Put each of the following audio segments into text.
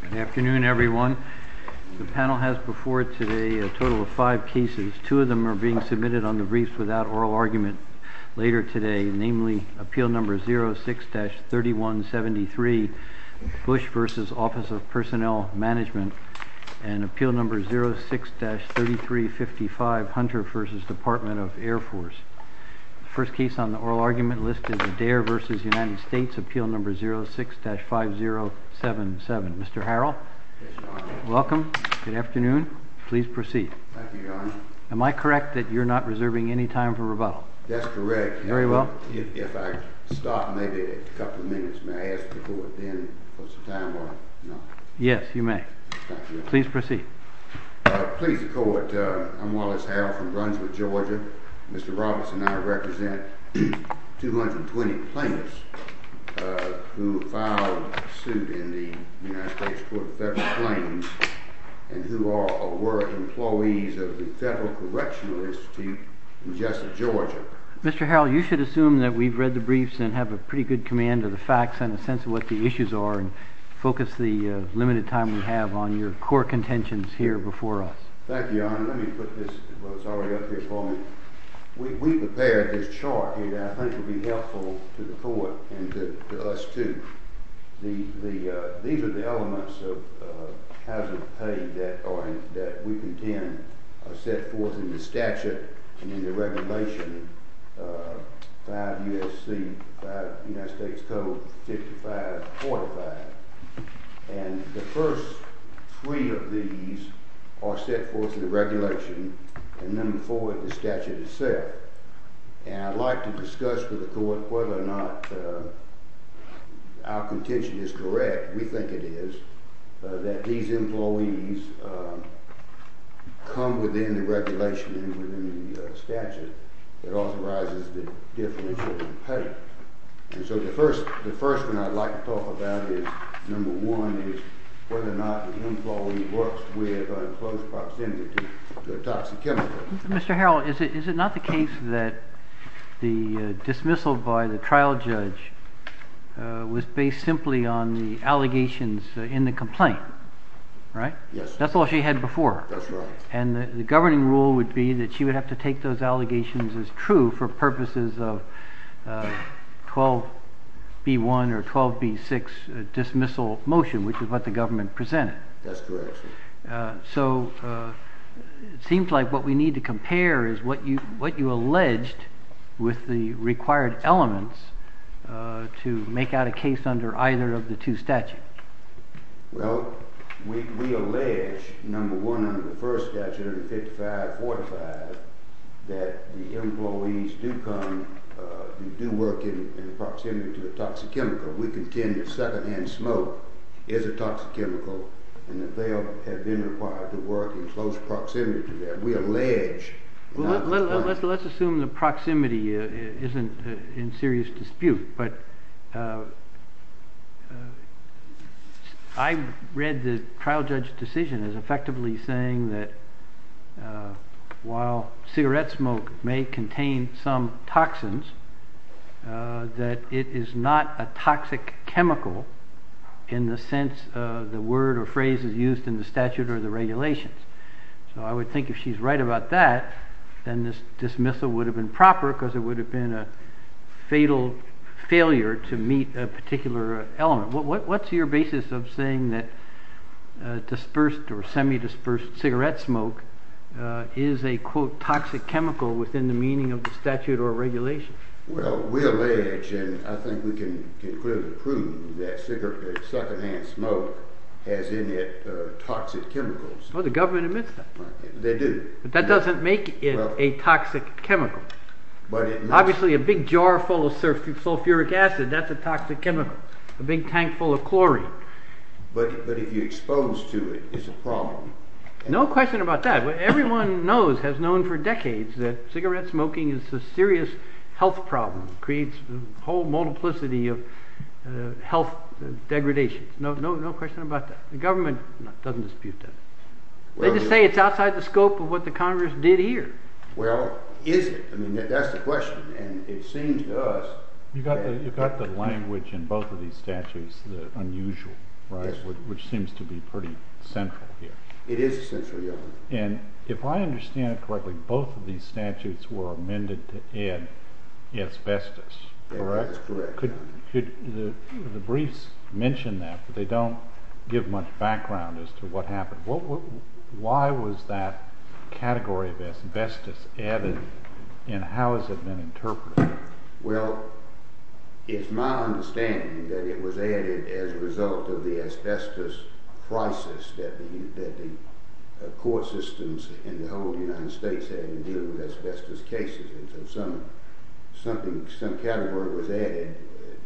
Good afternoon, everyone. The panel has before it today a total of five cases. Two of them are being submitted on the briefs without oral argument later today, namely Appeal No. 06-3173, Bush v. Office of Personnel Management, and Appeal No. 06-3355, Hunter v. Department of Air Force. The first case on the oral argument list is Adair v. United States, Appeal No. 06-5077. Mr. Harrell? Yes, Your Honor. Welcome. Good afternoon. Please proceed. Thank you, Your Honor. Am I correct that you're not reserving any time for rebuttal? That's correct. Very well. If I stop maybe a couple of minutes, may I ask the Court then to put some time on it? Yes, you may. Thank you. Please proceed. Please, the Court. I'm Wallace Harrell from Brunswick, Georgia. Mr. Roberts and I represent 220 plaintiffs who filed suit in the United States Court of Federal Claims and who are or were employees of the Federal Correctional Institute in Jessup, Georgia. Mr. Harrell, you should assume that we've read the briefs and have a pretty good command of the facts and a sense of what the issues are and focus the limited time we have on your court contentions here before us. Thank you, Your Honor. Your Honor, let me put this, what's already up here for me. We prepared this chart, and I think it would be helpful to the Court and to us too. These are the elements of hazard pay that we contend are set forth in the statute and in the regulation, 5 U.S.C., 5 United States Code, 55, 45. And the first three of these are set forth in the regulation, and number four in the statute itself. And I'd like to discuss with the Court whether or not our contention is correct. We think it is, that these employees come within the regulation and within the statute that authorizes the differential in pay. And so the first one I'd like to talk about is, number one, is whether or not the employee works with an enclosed proximity to a toxic chemical. Mr. Harrell, is it not the case that the dismissal by the trial judge was based simply on the allegations in the complaint, right? Yes. That's all she had before. That's right. And the governing rule would be that she would have to take those allegations as true for purposes of 12B1 or 12B6 dismissal motion, which is what the government presented. That's correct. So it seems like what we need to compare is what you alleged with the required elements to make out a case under either of the two statutes. Well, we allege, number one, under the first statute, under 5545, that the employees do come and do work in proximity to a toxic chemical. We contend that secondhand smoke is a toxic chemical and that they have been required to work in close proximity to that. We allege. Let's assume the proximity isn't in serious dispute. But I read the trial judge's decision as effectively saying that while cigarette smoke may contain some toxins, that it is not a toxic chemical in the sense the word or phrase is used in the statute or the regulations. So I would think if she's right about that, then this dismissal would have been proper because it would have been a fatal failure to meet a particular element. What's your basis of saying that dispersed or semi-dispersed cigarette smoke is a, quote, toxic chemical within the meaning of the statute or regulation? Well, we allege, and I think we can clearly prove that secondhand smoke has in it toxic chemicals. Well, the government admits that. They do. But that doesn't make it a toxic chemical. Obviously, a big jar full of sulfuric acid, that's a toxic chemical. A big tank full of chlorine. But if you're exposed to it, it's a problem. No question about that. What everyone knows, has known for decades, that cigarette smoking is a serious health problem. It creates a whole multiplicity of health degradation. No question about that. The government doesn't dispute that. They just say it's outside the scope of what the Congress did here. Well, is it? I mean, that's the question. And it seems to us that— You've got the language in both of these statutes, the unusual, which seems to be pretty central here. It is central, yeah. And if I understand it correctly, both of these statutes were amended to add asbestos. Correct. That's correct. The briefs mention that, but they don't give much background as to what happened. Why was that category of asbestos added, and how has it been interpreted? Well, it's my understanding that it was added as a result of the asbestos crisis that the court systems in the whole United States had in dealing with asbestos cases. And so some category was added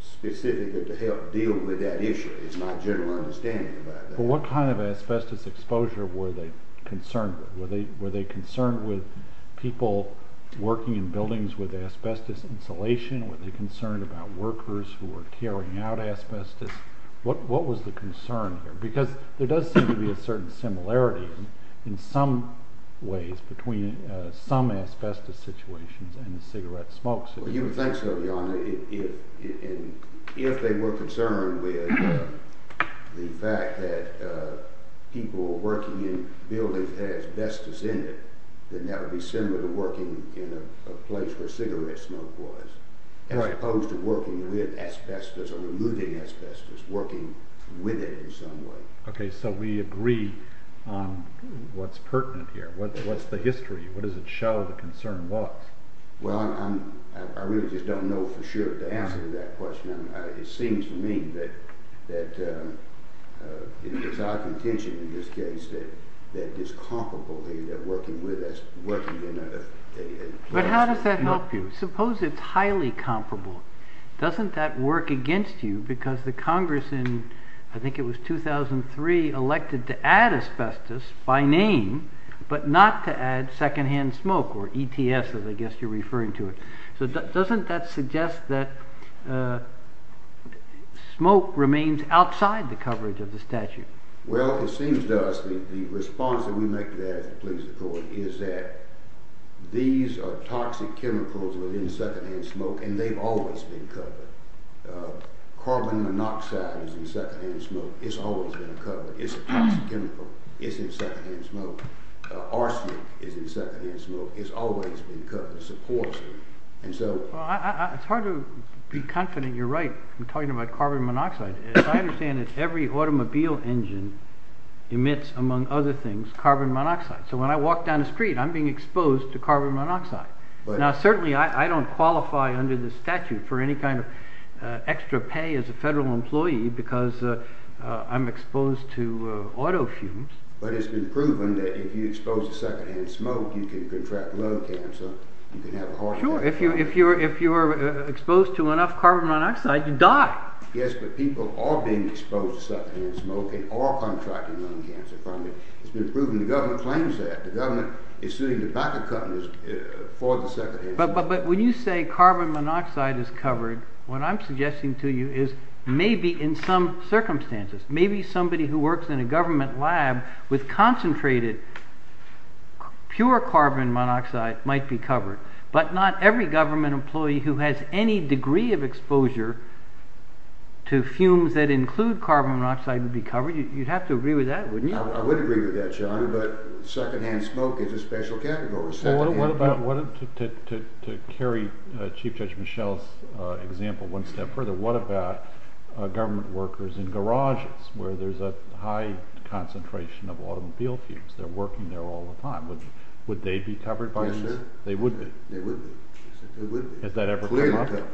specifically to help deal with that issue. It's my general understanding about that. Well, what kind of asbestos exposure were they concerned with? Were they concerned with people working in buildings with asbestos insulation? Were they concerned about workers who were carrying out asbestos? What was the concern here? Because there does seem to be a certain similarity in some ways between some asbestos situations and the cigarette smoke situations. You would think so, Your Honor. If they were concerned with the fact that people working in buildings had asbestos in it, then that would be similar to working in a place where cigarette smoke was, as opposed to working with asbestos or removing asbestos. Working with it in some way. Okay, so we agree on what's pertinent here. What's the history? What does it show the concern was? Well, I really just don't know for sure the answer to that question. It seems to me that it's our contention in this case that it's comparable to working in a place. But how does that help you? I suppose it's highly comparable. Doesn't that work against you? Because the Congress in, I think it was 2003, elected to add asbestos by name, but not to add secondhand smoke, or ETS as I guess you're referring to it. So doesn't that suggest that smoke remains outside the coverage of the statute? Well, it seems to us the response that we make to that, if you please, Your Honor, is that these are toxic chemicals within secondhand smoke, and they've always been covered. Carbon monoxide is in secondhand smoke. It's always been covered. It's a toxic chemical. It's in secondhand smoke. Arsenic is in secondhand smoke. It's always been covered. It's a poison. It's hard to be confident you're right in talking about carbon monoxide. As I understand it, every automobile engine emits, among other things, carbon monoxide. So when I walk down the street, I'm being exposed to carbon monoxide. Now, certainly I don't qualify under the statute for any kind of extra pay as a federal employee because I'm exposed to autofumes. But it's been proven that if you expose to secondhand smoke, you can contract lung cancer. You can have a heart attack. Sure. If you're exposed to enough carbon monoxide, you die. Yes, but people are being exposed to secondhand smoke and are contracting lung cancer from it. It's been proven. The government claims that. The government is suing the tobacco companies for the secondhand smoke. But when you say carbon monoxide is covered, what I'm suggesting to you is maybe in some circumstances. Maybe somebody who works in a government lab with concentrated pure carbon monoxide might be covered. But not every government employee who has any degree of exposure to fumes that include carbon monoxide would be covered. You'd have to agree with that, wouldn't you? I would agree with that, John. But secondhand smoke is a special category. To carry Chief Judge Michel's example one step further, what about government workers in garages where there's a high concentration of automobile fumes? They're working there all the time. Would they be covered by this? Yes, sir. They would be. They would be. Has that ever come up? Clearly covered.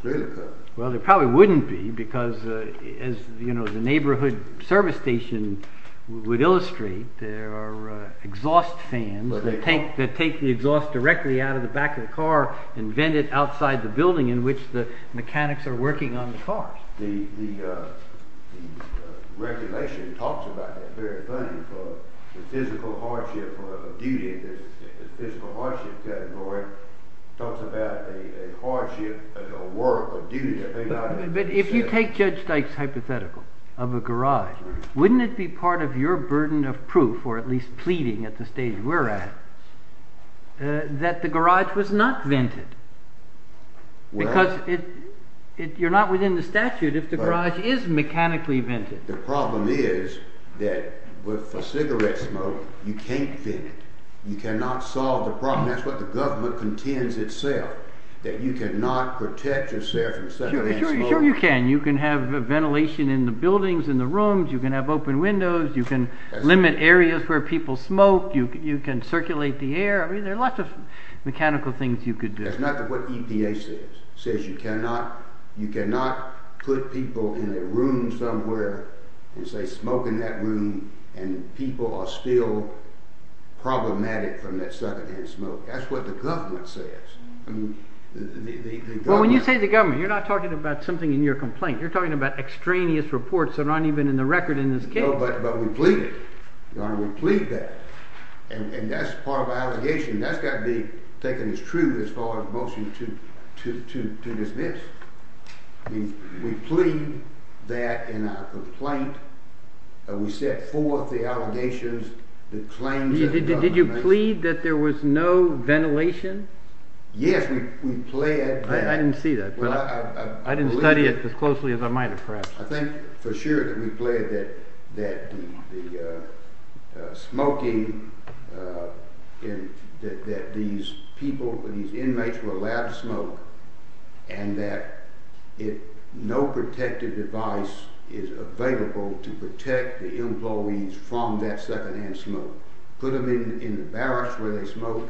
Clearly covered. Well, there probably wouldn't be because as the neighborhood service station would illustrate, there are exhaust fans that take the exhaust directly out of the back of the car and vent it outside the building in which the mechanics are working on the cars. The regulation talks about that very funny for the physical hardship of duty. The physical hardship category talks about the hardship of the work of duty. But if you take Judge Dyke's hypothetical of a garage, wouldn't it be part of your burden of proof, or at least pleading at the stage we're at, that the garage was not vented? Because you're not within the statute if the garage is mechanically vented. The problem is that with a cigarette smoke, you can't vent it. You cannot solve the problem. That's what the government contends itself, that you cannot protect yourself from cigarette smoke. Sure you can. You can have ventilation in the buildings, in the rooms. You can have open windows. You can limit areas where people smoke. You can circulate the air. I mean, there are lots of mechanical things you could do. That's not what EPA says. It says you cannot put people in a room somewhere and say smoke in that room, and people are still problematic from that secondhand smoke. That's what the government says. Well, when you say the government, you're not talking about something in your complaint. You're talking about extraneous reports that aren't even in the record in this case. But we plead it. We plead that. And that's part of our allegation. That's got to be taken as true as far as motion to dismiss. We plead that in our complaint. We set forth the allegations, the claims that the government makes. Did you plead that there was no ventilation? Yes, we pled that. I didn't see that. I didn't study it as closely as I might have, perhaps. I think for sure that we pled that the smoking, that these people, these inmates were allowed to smoke, and that no protective device is available to protect the employees from that secondhand smoke. Put them in the barracks where they smoke.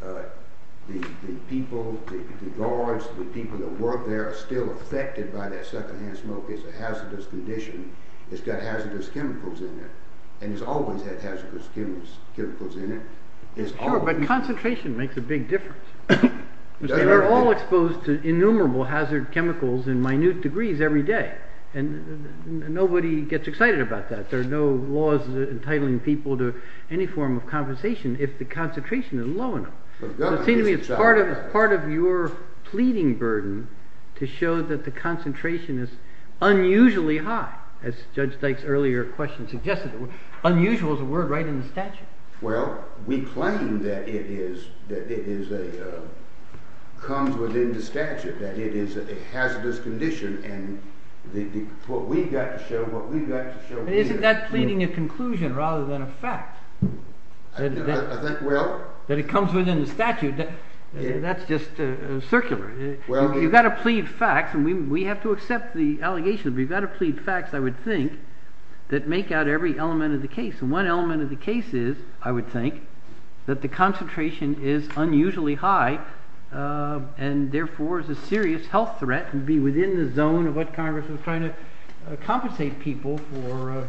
The people, the guards, the people that work there are still affected by that secondhand smoke. It's a hazardous condition. It's got hazardous chemicals in it. And it's always had hazardous chemicals in it. Sure, but concentration makes a big difference. We're all exposed to innumerable hazard chemicals in minute degrees every day. And nobody gets excited about that. There are no laws entitling people to any form of compensation if the concentration is low enough. It seems to me it's part of your pleading burden to show that the concentration is unusually high, as Judge Dyke's earlier question suggested. Unusual is a word right in the statute. Well, we claim that it comes within the statute, that it is a hazardous condition. And what we've got to show, what we've got to show is that. Isn't that pleading a conclusion rather than a fact? I think, well. That it comes within the statute. That's just circular. You've got to plead facts. And we have to accept the allegations. But you've got to plead facts, I would think, that make out every element of the case. And one element of the case is, I would think, that the concentration is unusually high and therefore is a serious health threat and be within the zone of what Congress is trying to compensate people for.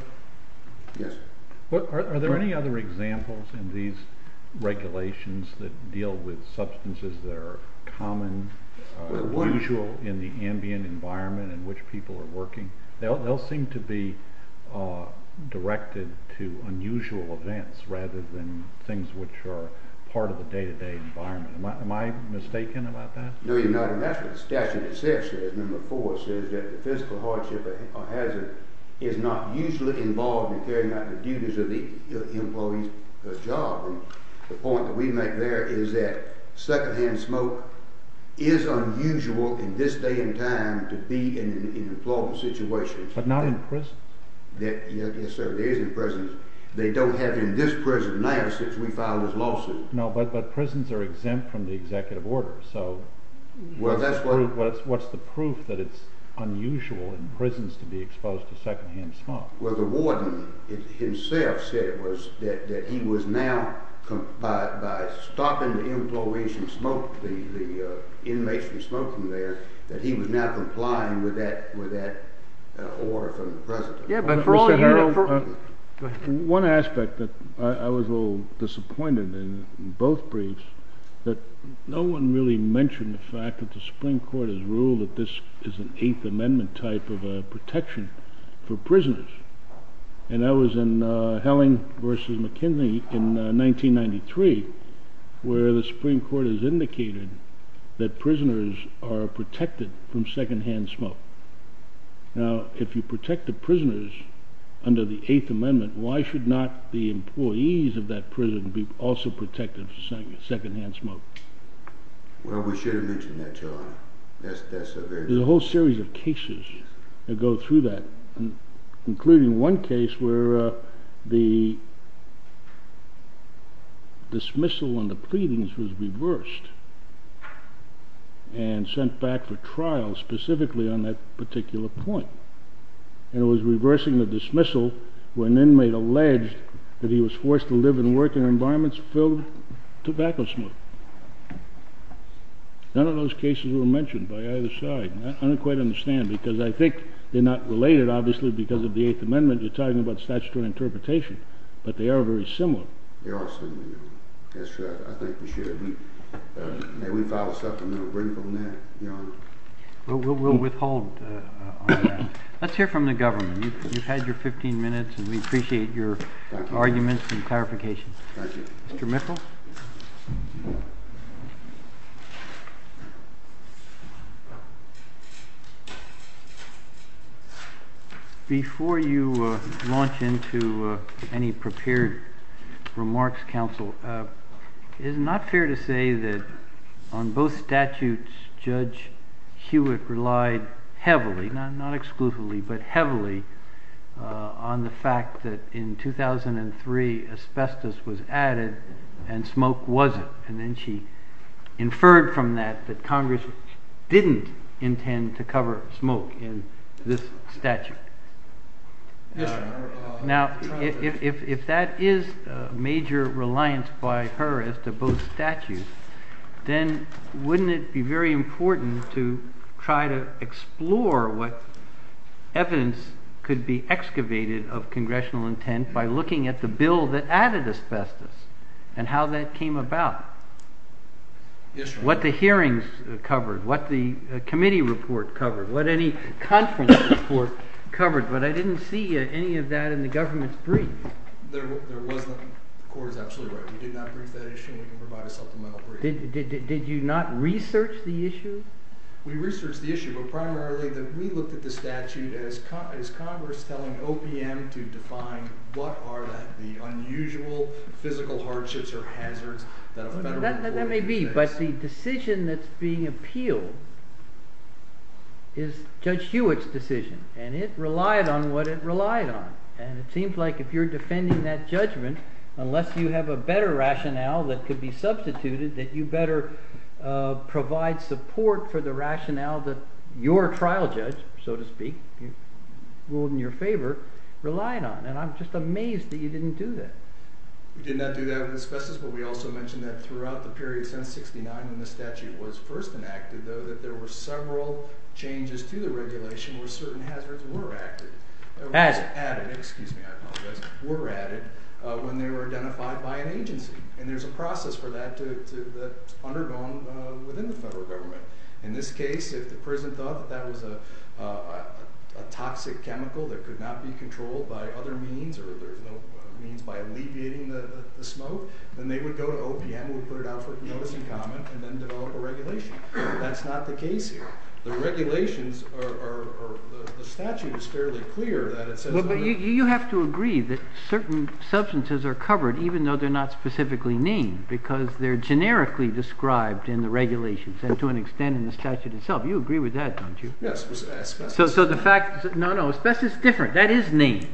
Yes. Are there any other examples in these regulations that deal with substances that are common, unusual in the ambient environment in which people are working? They all seem to be directed to unusual events rather than things which are part of the day-to-day environment. Am I mistaken about that? No, you're not. That's what the statute itself says. Number four says that the physical hardship or hazard is not usually involved in carrying out the duties of the employee's job. And the point that we make there is that secondhand smoke is unusual in this day and time to be in an employment situation. But not in prisons. Yes, sir, it is in prisons. They don't have it in this prison now since we filed this lawsuit. No, but prisons are exempt from the executive order. So what's the proof that it's unusual in prisons to be exposed to secondhand smoke? Well, the warden himself said that he was now, by stopping the inmates from smoking there, that he was now complying with that order from the president. Go ahead. One aspect that I was a little disappointed in, in both briefs, that no one really mentioned the fact that the Supreme Court has ruled that this is an Eighth Amendment type of protection for prisoners. And that was in Helling v. McKinley in 1993 where the Supreme Court has indicated that prisoners are protected from secondhand smoke. Now, if you protect the prisoners under the Eighth Amendment, why should not the employees of that prison be also protected from secondhand smoke? Well, we should have mentioned that, Your Honor. There's a whole series of cases that go through that, including one case where the dismissal on the pleadings was reversed and sent back for trial specifically on that particular point. And it was reversing the dismissal when an inmate alleged that he was forced to live and work in environments filled with tobacco smoke. None of those cases were mentioned by either side. I don't quite understand, because I think they're not related, obviously, because of the Eighth Amendment. You're talking about statutory interpretation, but they are very similar. Yes, I think we should. May we file a supplemental brief on that, Your Honor? We'll withhold on that. Let's hear from the government. You've had your 15 minutes, and we appreciate your arguments and clarifications. Thank you. Mr. Mitchell? Before you launch into any prepared remarks, Counsel, it is not fair to say that on both statutes, Judge Hewitt relied heavily, not exclusively, but heavily, on the fact that in 2003, asbestos was added, and smoke wasn't, and then she inferred from that that Congress didn't intend to cover smoke in this statute. Yes, Your Honor. Now, if that is major reliance by her as to both statutes, then wouldn't it be very important to try to explore what evidence could be excavated of congressional intent by looking at the bill that added asbestos and how that came about? Yes, Your Honor. What the hearings covered, what the committee report covered, what any conference report covered, but I didn't see any of that in the government's brief. There wasn't. The Court is absolutely right. We did not brief that issue, and we can provide a supplemental brief. Did you not research the issue? We researched the issue, but primarily we looked at the statute as Congress telling OPM to define what are the unusual physical hardships or hazards that a federal employee could face. That may be, but the decision that's being appealed is Judge Hewitt's decision, and it relied on what it relied on, and it seems like if you're defending that judgment, unless you have a better rationale that could be substituted, that you better provide support for the rationale that your trial judge, so to speak, ruled in your favor, relied on, and I'm just amazed that you didn't do that. We did not do that with asbestos, but we also mentioned that throughout the period since 1969 when the statute was first enacted, though, that there were several changes to the regulation where certain hazards were added when they were identified by an agency, and there's a process for that to be undergone within the federal government. In this case, if the prison thought that that was a toxic chemical that could not be controlled by other means or there's no means by alleviating the smoke, then they would go to OPM, would put it out for notice and comment, and then develop a regulation. That's not the case here. The regulations are, the statute is fairly clear that it says… So you have to agree that certain substances are covered even though they're not specifically named, because they're generically described in the regulations and to an extent in the statute itself. You agree with that, don't you? Yes, with asbestos. So the fact, no, no, asbestos is different. That is named,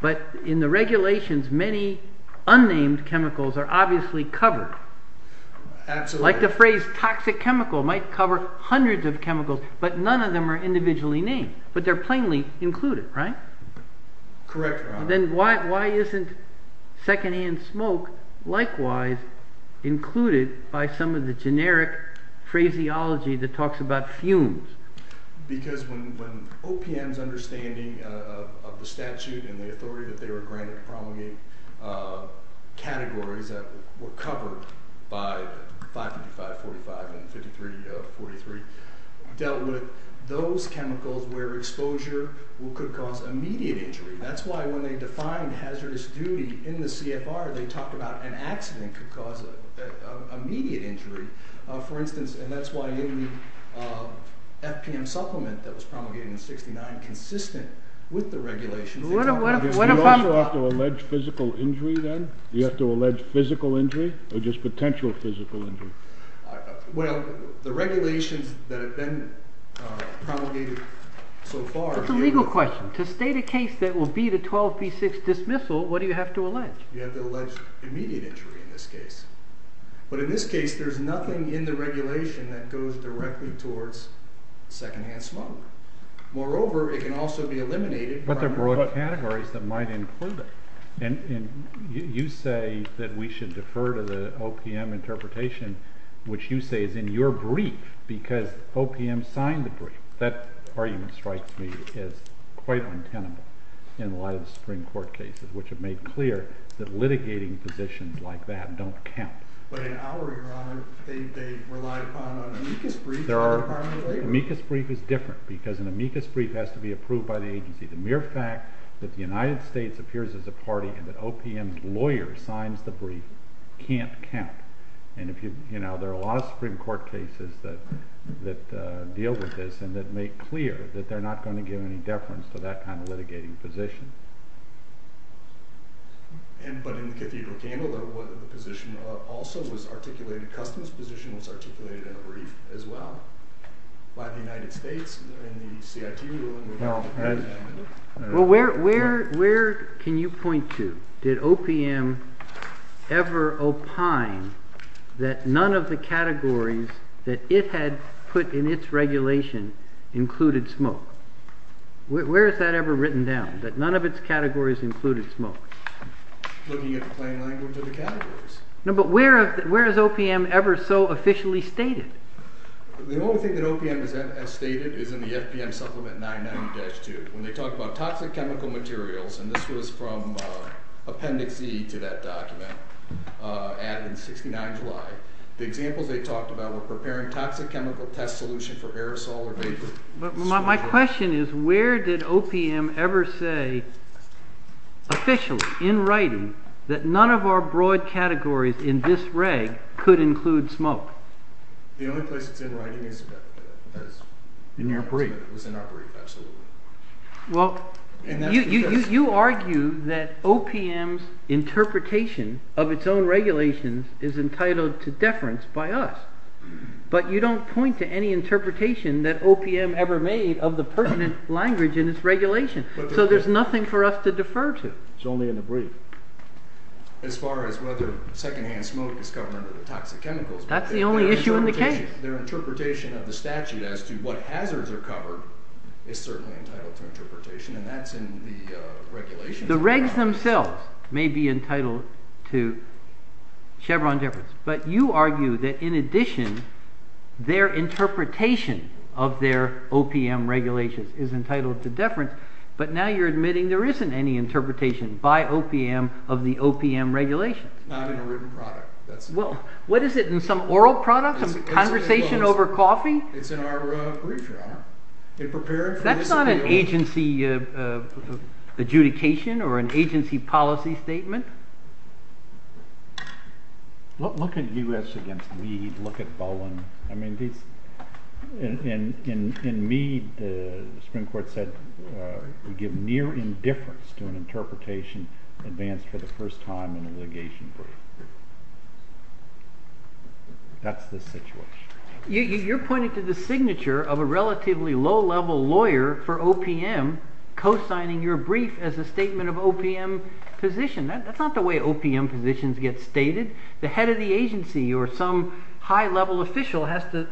but in the regulations many unnamed chemicals are obviously covered. Absolutely. Like the phrase toxic chemical might cover hundreds of chemicals, but none of them are individually named, but they're plainly included, right? Correct, Ron. Then why isn't secondhand smoke likewise included by some of the generic phraseology that talks about fumes? Because when OPM's understanding of the statute and the authority that they were granted to promulgate categories that were covered by 555-45 and 53-43 dealt with those chemicals where exposure could cause immediate injury. That's why when they defined hazardous duty in the CFR, they talked about an accident could cause immediate injury. For instance, and that's why any FPM supplement that was promulgated in 69 consistent with the regulations. You also have to allege physical injury then? Do you have to allege physical injury or just potential physical injury? Well, the regulations that have been promulgated so far. That's a legal question. To state a case that will be the 12B6 dismissal, what do you have to allege? You have to allege immediate injury in this case. But in this case, there's nothing in the regulation that goes directly towards secondhand smoke. Moreover, it can also be eliminated. But there are broad categories that might include it. And you say that we should defer to the OPM interpretation, which you say is in your brief because OPM signed the brief. That argument strikes me as quite untenable in a lot of the Supreme Court cases, which have made clear that litigating positions like that don't count. But in our, Your Honor, they relied upon an amicus brief by the Department of Labor. The amicus brief is different because an amicus brief has to be approved by the agency. The mere fact that the United States appears as a party and that OPM's lawyer signs the brief can't count. And, you know, there are a lot of Supreme Court cases that deal with this and that make clear that they're not going to give any deference to that kind of litigating position. But in the Cathedral Candle, the position also was articulated, the customs position was articulated in a brief as well by the United States. Well, where can you point to? Did OPM ever opine that none of the categories that it had put in its regulation included smoke? Where is that ever written down, that none of its categories included smoke? Looking at the plain language of the categories. No, but where is OPM ever so officially stated? The only thing that OPM has stated is in the FPM Supplement 990-2. When they talk about toxic chemical materials, and this was from Appendix E to that document added in 69 July, the examples they talked about were preparing toxic chemical test solution for aerosol or vapor. But my question is where did OPM ever say officially in writing that none of our broad categories in this reg could include smoke? The only place it's in writing is in our brief, absolutely. Well, you argue that OPM's interpretation of its own regulations is entitled to deference by us. But you don't point to any interpretation that OPM ever made of the pertinent language in its regulation. So there's nothing for us to defer to. It's only in the brief. As far as whether secondhand smoke is covered under the toxic chemicals. That's the only issue in the case. Their interpretation of the statute as to what hazards are covered is certainly entitled to interpretation, and that's in the regulations. The regs themselves may be entitled to Chevron deference. But you argue that in addition, their interpretation of their OPM regulations is entitled to deference. But now you're admitting there isn't any interpretation by OPM of the OPM regulations. Not in a written product. Well, what is it? In some oral product? A conversation over coffee? It's in our brief, your honor. That's not an agency adjudication or an agency policy statement. Look at U.S. against Meade. Look at Bowen. In Meade, the Supreme Court said we give near indifference to an interpretation advanced for the first time in a litigation brief. That's the situation. You're pointing to the signature of a relatively low-level lawyer for OPM co-signing your brief as a statement of OPM position. That's not the way OPM positions get stated. The head of the agency or some high-level official has to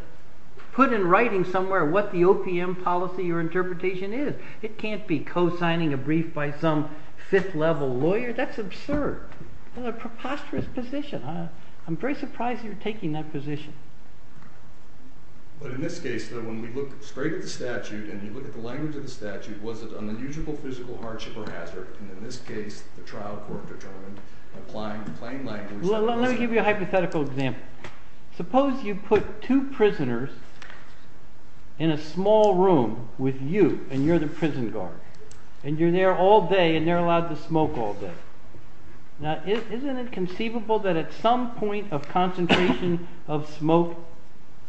put in writing somewhere what the OPM policy or interpretation is. It can't be co-signing a brief by some fifth-level lawyer. That's absurd. That's a preposterous position. I'm very surprised you're taking that position. But in this case, though, when we look straight at the statute and you look at the language of the statute, was it an unusual physical hardship or hazard? And in this case, the trial court determined applying plain language… Let me give you a hypothetical example. Suppose you put two prisoners in a small room with you, and you're the prison guard. And you're there all day, and they're allowed to smoke all day. Now, isn't it conceivable that at some point of concentration of smoke,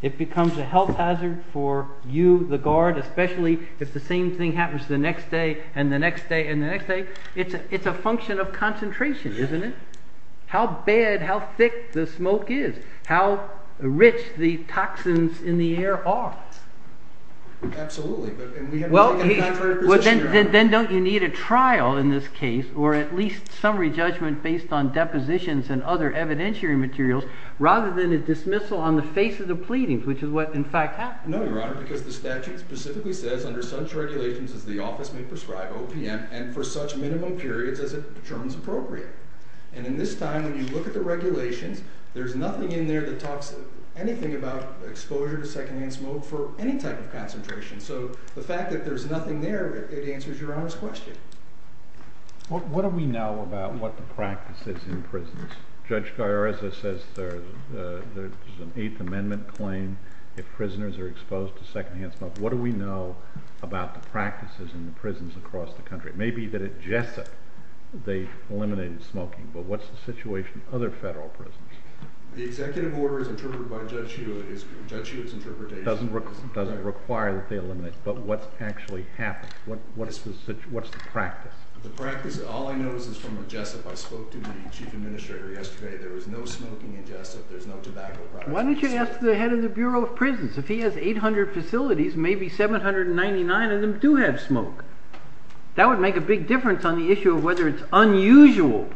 it becomes a health hazard for you, the guard, especially if the same thing happens the next day and the next day and the next day? It's a function of concentration, isn't it? How bad, how thick the smoke is, how rich the toxins in the air are. Absolutely. Well, then don't you need a trial in this case, or at least summary judgment based on depositions and other evidentiary materials, rather than a dismissal on the face of the pleadings, which is what, in fact, happened? No, Your Honor, because the statute specifically says, under such regulations as the office may prescribe OPM, and for such minimum periods as it determines appropriate. And in this time, when you look at the regulations, there's nothing in there that talks anything about exposure to secondhand smoke for any type of concentration. So the fact that there's nothing there, it answers Your Honor's question. Judge Gaiarezza says there's an Eighth Amendment claim. If prisoners are exposed to secondhand smoke, what do we know about the practices in the prisons across the country? It may be that at Jessup they eliminated smoking, but what's the situation at other federal prisons? The executive order is interpreted by Judge Hewitt. Judge Hewitt's interpretation doesn't require that they eliminate, but what's actually happened? What's the practice? The practice, all I know is from Jessup, I spoke to the chief administrator yesterday, there was no smoking in Jessup, there's no tobacco products in Jessup. Why don't you ask the head of the Bureau of Prisons? If he has 800 facilities, maybe 799 of them do have smoke. That would make a big difference on the issue of whether it's unusual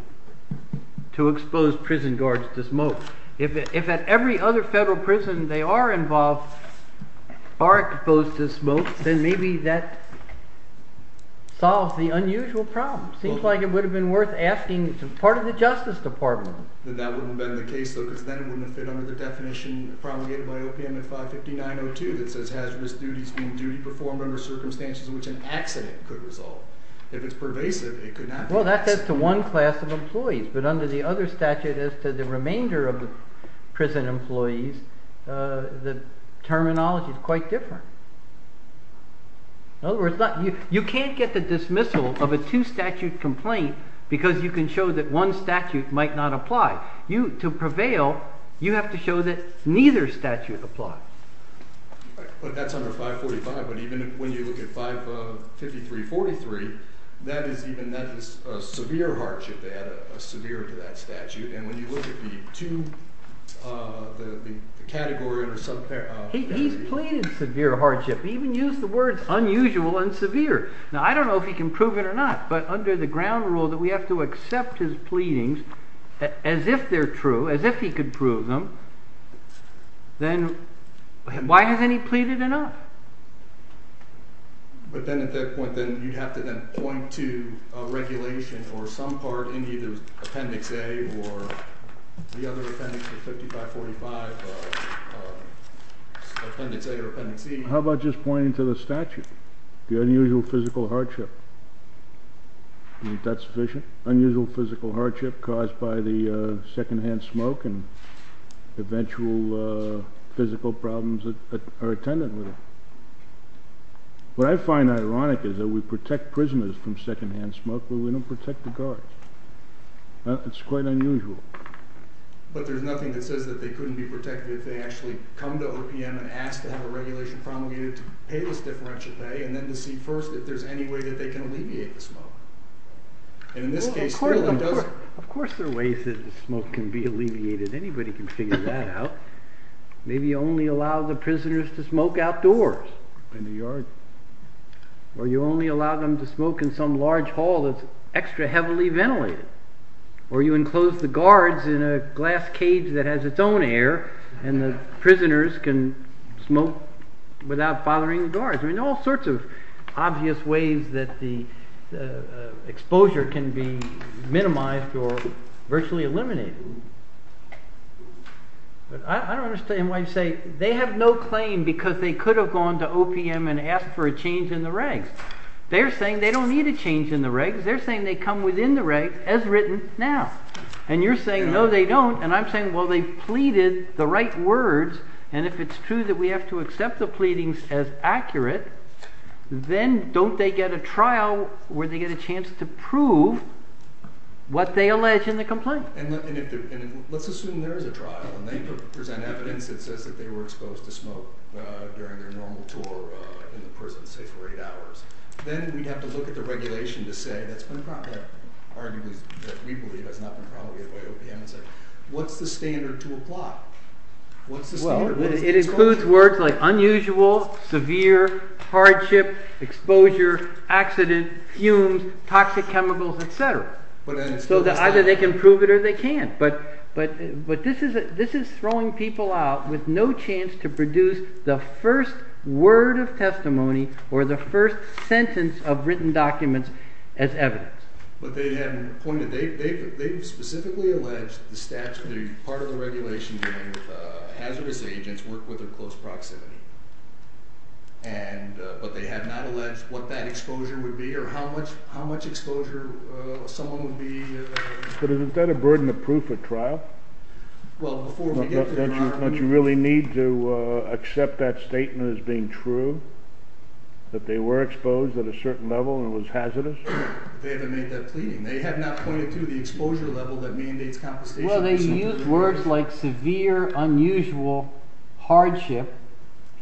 to expose prison guards to smoke. If at every other federal prison they are involved, are exposed to smoke, then maybe that solves the unusual problem. Seems like it would have been worth asking part of the Justice Department. That wouldn't have been the case, though, because then it wouldn't have fit under the definition promulgated by OPM in 559.02 that says hazardous duties being duty performed under circumstances in which an accident could result. If it's pervasive, it could not be. Well, that's as to one class of employees, but under the other statute, as to the remainder of the prison employees, the terminology is quite different. In other words, you can't get the dismissal of a two statute complaint because you can show that one statute might not apply. To prevail, you have to show that neither statute applies. But that's under 545. But even when you look at 553.43, that is a severe hardship. They add a severe to that statute. And when you look at the two, the category or subcategory. He's pleaded severe hardship. He even used the words unusual and severe. Now, I don't know if he can prove it or not, but under the ground rule that we have to accept his pleadings as if they're true, as if he could prove them, then why hasn't he pleaded enough? But then at that point, then you'd have to then point to regulation or some part in either Appendix A or the other appendices, 5545, Appendix A or Appendix C. How about just pointing to the statute? The unusual physical hardship. Do you think that's sufficient? Unusual physical hardship caused by the secondhand smoke and eventual physical problems that are attendant with it. What I find ironic is that we protect prisoners from secondhand smoke when we don't protect the guards. It's quite unusual. But there's nothing that says that they couldn't be protected if they actually come to OPM and ask to have a regulation promulgated to pay this differential pay and then to see first if there's any way that they can alleviate the smoke. Of course there are ways that the smoke can be alleviated. Anybody can figure that out. Maybe you only allow the prisoners to smoke outdoors in the yard. Or you only allow them to smoke in some large hall that's extra heavily ventilated. Or you enclose the guards in a glass cage that has its own air and the prisoners can smoke without bothering the guards. There are all sorts of obvious ways that the exposure can be minimized or virtually eliminated. But I don't understand why you say they have no claim because they could have gone to OPM and asked for a change in the regs. They're saying they don't need a change in the regs. They're saying they come within the regs as written now. And you're saying, no, they don't. And I'm saying, well, they pleaded the right words. And if it's true that we have to accept the pleadings as accurate, then don't they get a trial where they get a chance to prove what they allege in the complaint? And let's assume there is a trial and they present evidence that says that they were exposed to smoke during their normal tour in the prison, say, for eight hours. Then we'd have to look at the regulation to say that's been probably argued that we believe has not been promulgated by OPM and say, what's the standard to apply? Well, it includes words like unusual, severe, hardship, exposure, accident, fumes, toxic chemicals, et cetera. So either they can prove it or they can't. But this is throwing people out with no chance to produce the first word of testimony or the first sentence of written documents as evidence. But they haven't pointed. They've specifically alleged the part of the regulation that hazardous agents work with in close proximity. But they have not alleged what that exposure would be or how much exposure someone would be exposed to. But isn't that a burden of proof at trial? Don't you really need to accept that statement as being true that they were exposed at a certain level and it was hazardous? They haven't made that pleading. They have not pointed to the exposure level that mandates confiscation. Well, they use words like severe, unusual, hardship.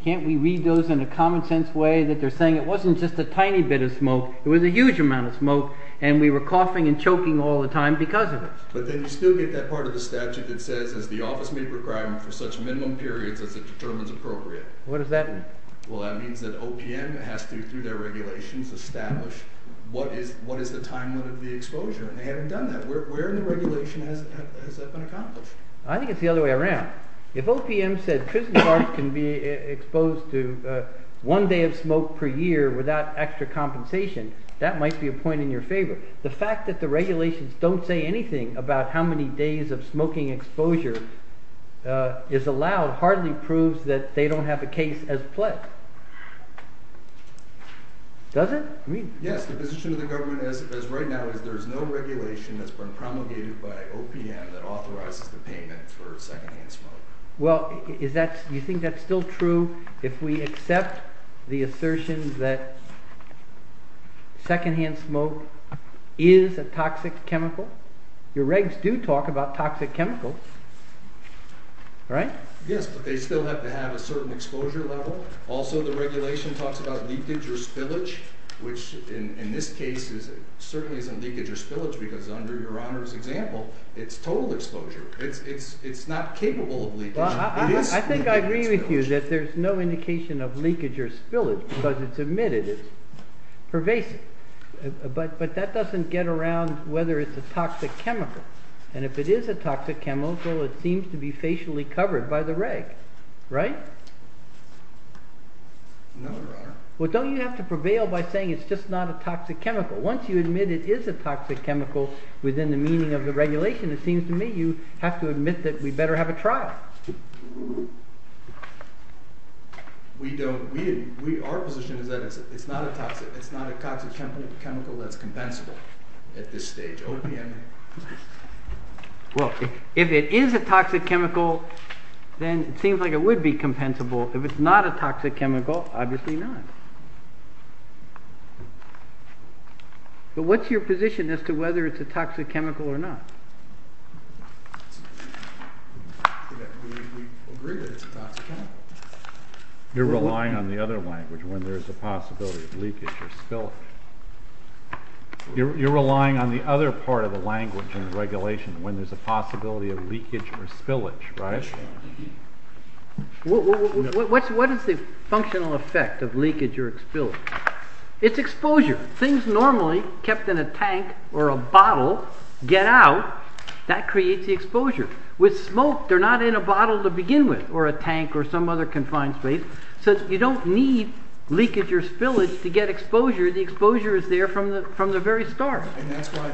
Can't we read those in a common sense way that they're saying it wasn't just a tiny bit of smoke, it was a huge amount of smoke and we were coughing and choking all the time because of it? But then you still get that part of the statute that says as the office made requirement for such minimum periods as it determines appropriate. What does that mean? Well, that means that OPM has to, through their regulations, establish what is the time limit of the exposure, and they haven't done that. Where in the regulation has that been accomplished? I think it's the other way around. If OPM said prison guards can be exposed to one day of smoke per year without extra compensation, that might be a point in your favor. The fact that the regulations don't say anything about how many days of smoking exposure is allowed hardly proves that they don't have a case as pledged. Does it? Yes, the position of the government as of right now is there's no regulation that's been promulgated by OPM that authorizes the payment for secondhand smoke. Well, you think that's still true if we accept the assertion that secondhand smoke is a toxic chemical? Your regs do talk about toxic chemicals, right? Yes, but they still have to have a certain exposure level. Also, the regulation talks about leakage or spillage, which in this case certainly isn't leakage or spillage because under Your Honor's example, it's total exposure. It's not capable of leakage. I think I agree with you that there's no indication of leakage or spillage because it's emitted. It's pervasive. But that doesn't get around whether it's a toxic chemical. And if it is a toxic chemical, it seems to be facially covered by the reg, right? No, Your Honor. Well, don't you have to prevail by saying it's just not a toxic chemical? Once you admit it is a toxic chemical within the meaning of the regulation, it seems to me you have to admit that we better have a trial. Our position is that it's not a toxic chemical that's compensable at this stage, OPM. Well, if it is a toxic chemical, then it seems like it would be compensable. If it's not a toxic chemical, obviously not. But what's your position as to whether it's a toxic chemical or not? We agree that it's a toxic chemical. You're relying on the other language when there's a possibility of leakage or spillage. You're relying on the other part of the language in the regulation when there's a possibility of leakage or spillage, right? What is the functional effect of leakage or spillage? It's exposure. Things normally kept in a tank or a bottle get out. That creates the exposure. With smoke, they're not in a bottle to begin with, or a tank, or some other confined space. So you don't need leakage or spillage to get exposure. The exposure is there from the very start. And that's why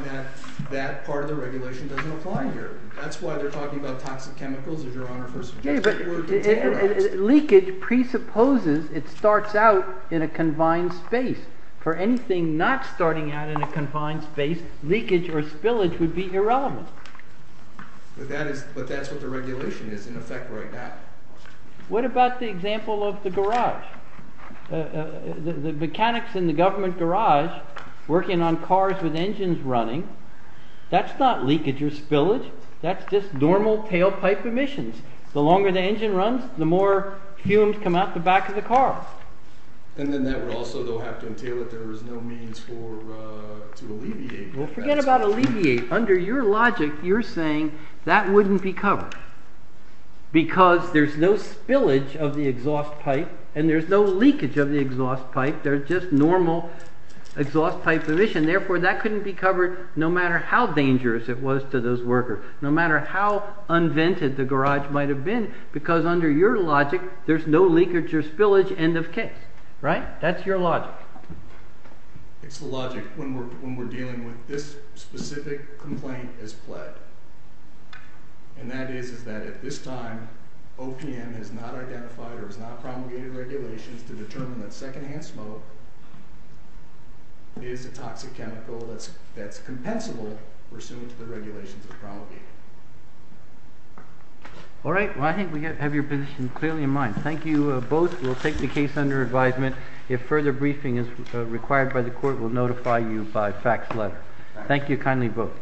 that part of the regulation doesn't apply here. That's why they're talking about toxic chemicals, as your Honor first suggested. Leakage presupposes it starts out in a confined space. For anything not starting out in a confined space, leakage or spillage would be irrelevant. But that's what the regulation is, in effect, right now. What about the example of the garage? The mechanics in the government garage working on cars with engines running, that's not leakage or spillage. That's just normal tailpipe emissions. The longer the engine runs, the more fumes come out the back of the car. And then that would also have to entail that there is no means to alleviate that. Forget about alleviate. Under your logic, you're saying that wouldn't be covered because there's no spillage of the exhaust pipe and there's no leakage of the exhaust pipe. They're just normal exhaust pipe emissions. Therefore, that couldn't be covered, no matter how dangerous it was to those workers, no matter how unvented the garage might have been, because under your logic, there's no leakage or spillage, end of case. Right? That's your logic. It's the logic when we're dealing with this specific complaint as pled. And that is that at this time, OPM has not identified or has not promulgated regulations to determine that secondhand smoke is a toxic chemical that's compensable pursuant to the regulations it promulgated. All right. Well, I think we have your position clearly in mind. Thank you both. We'll take the case under advisement. If further briefing is required by the court, we'll notify you by fax letter. Thank you. Kindly vote.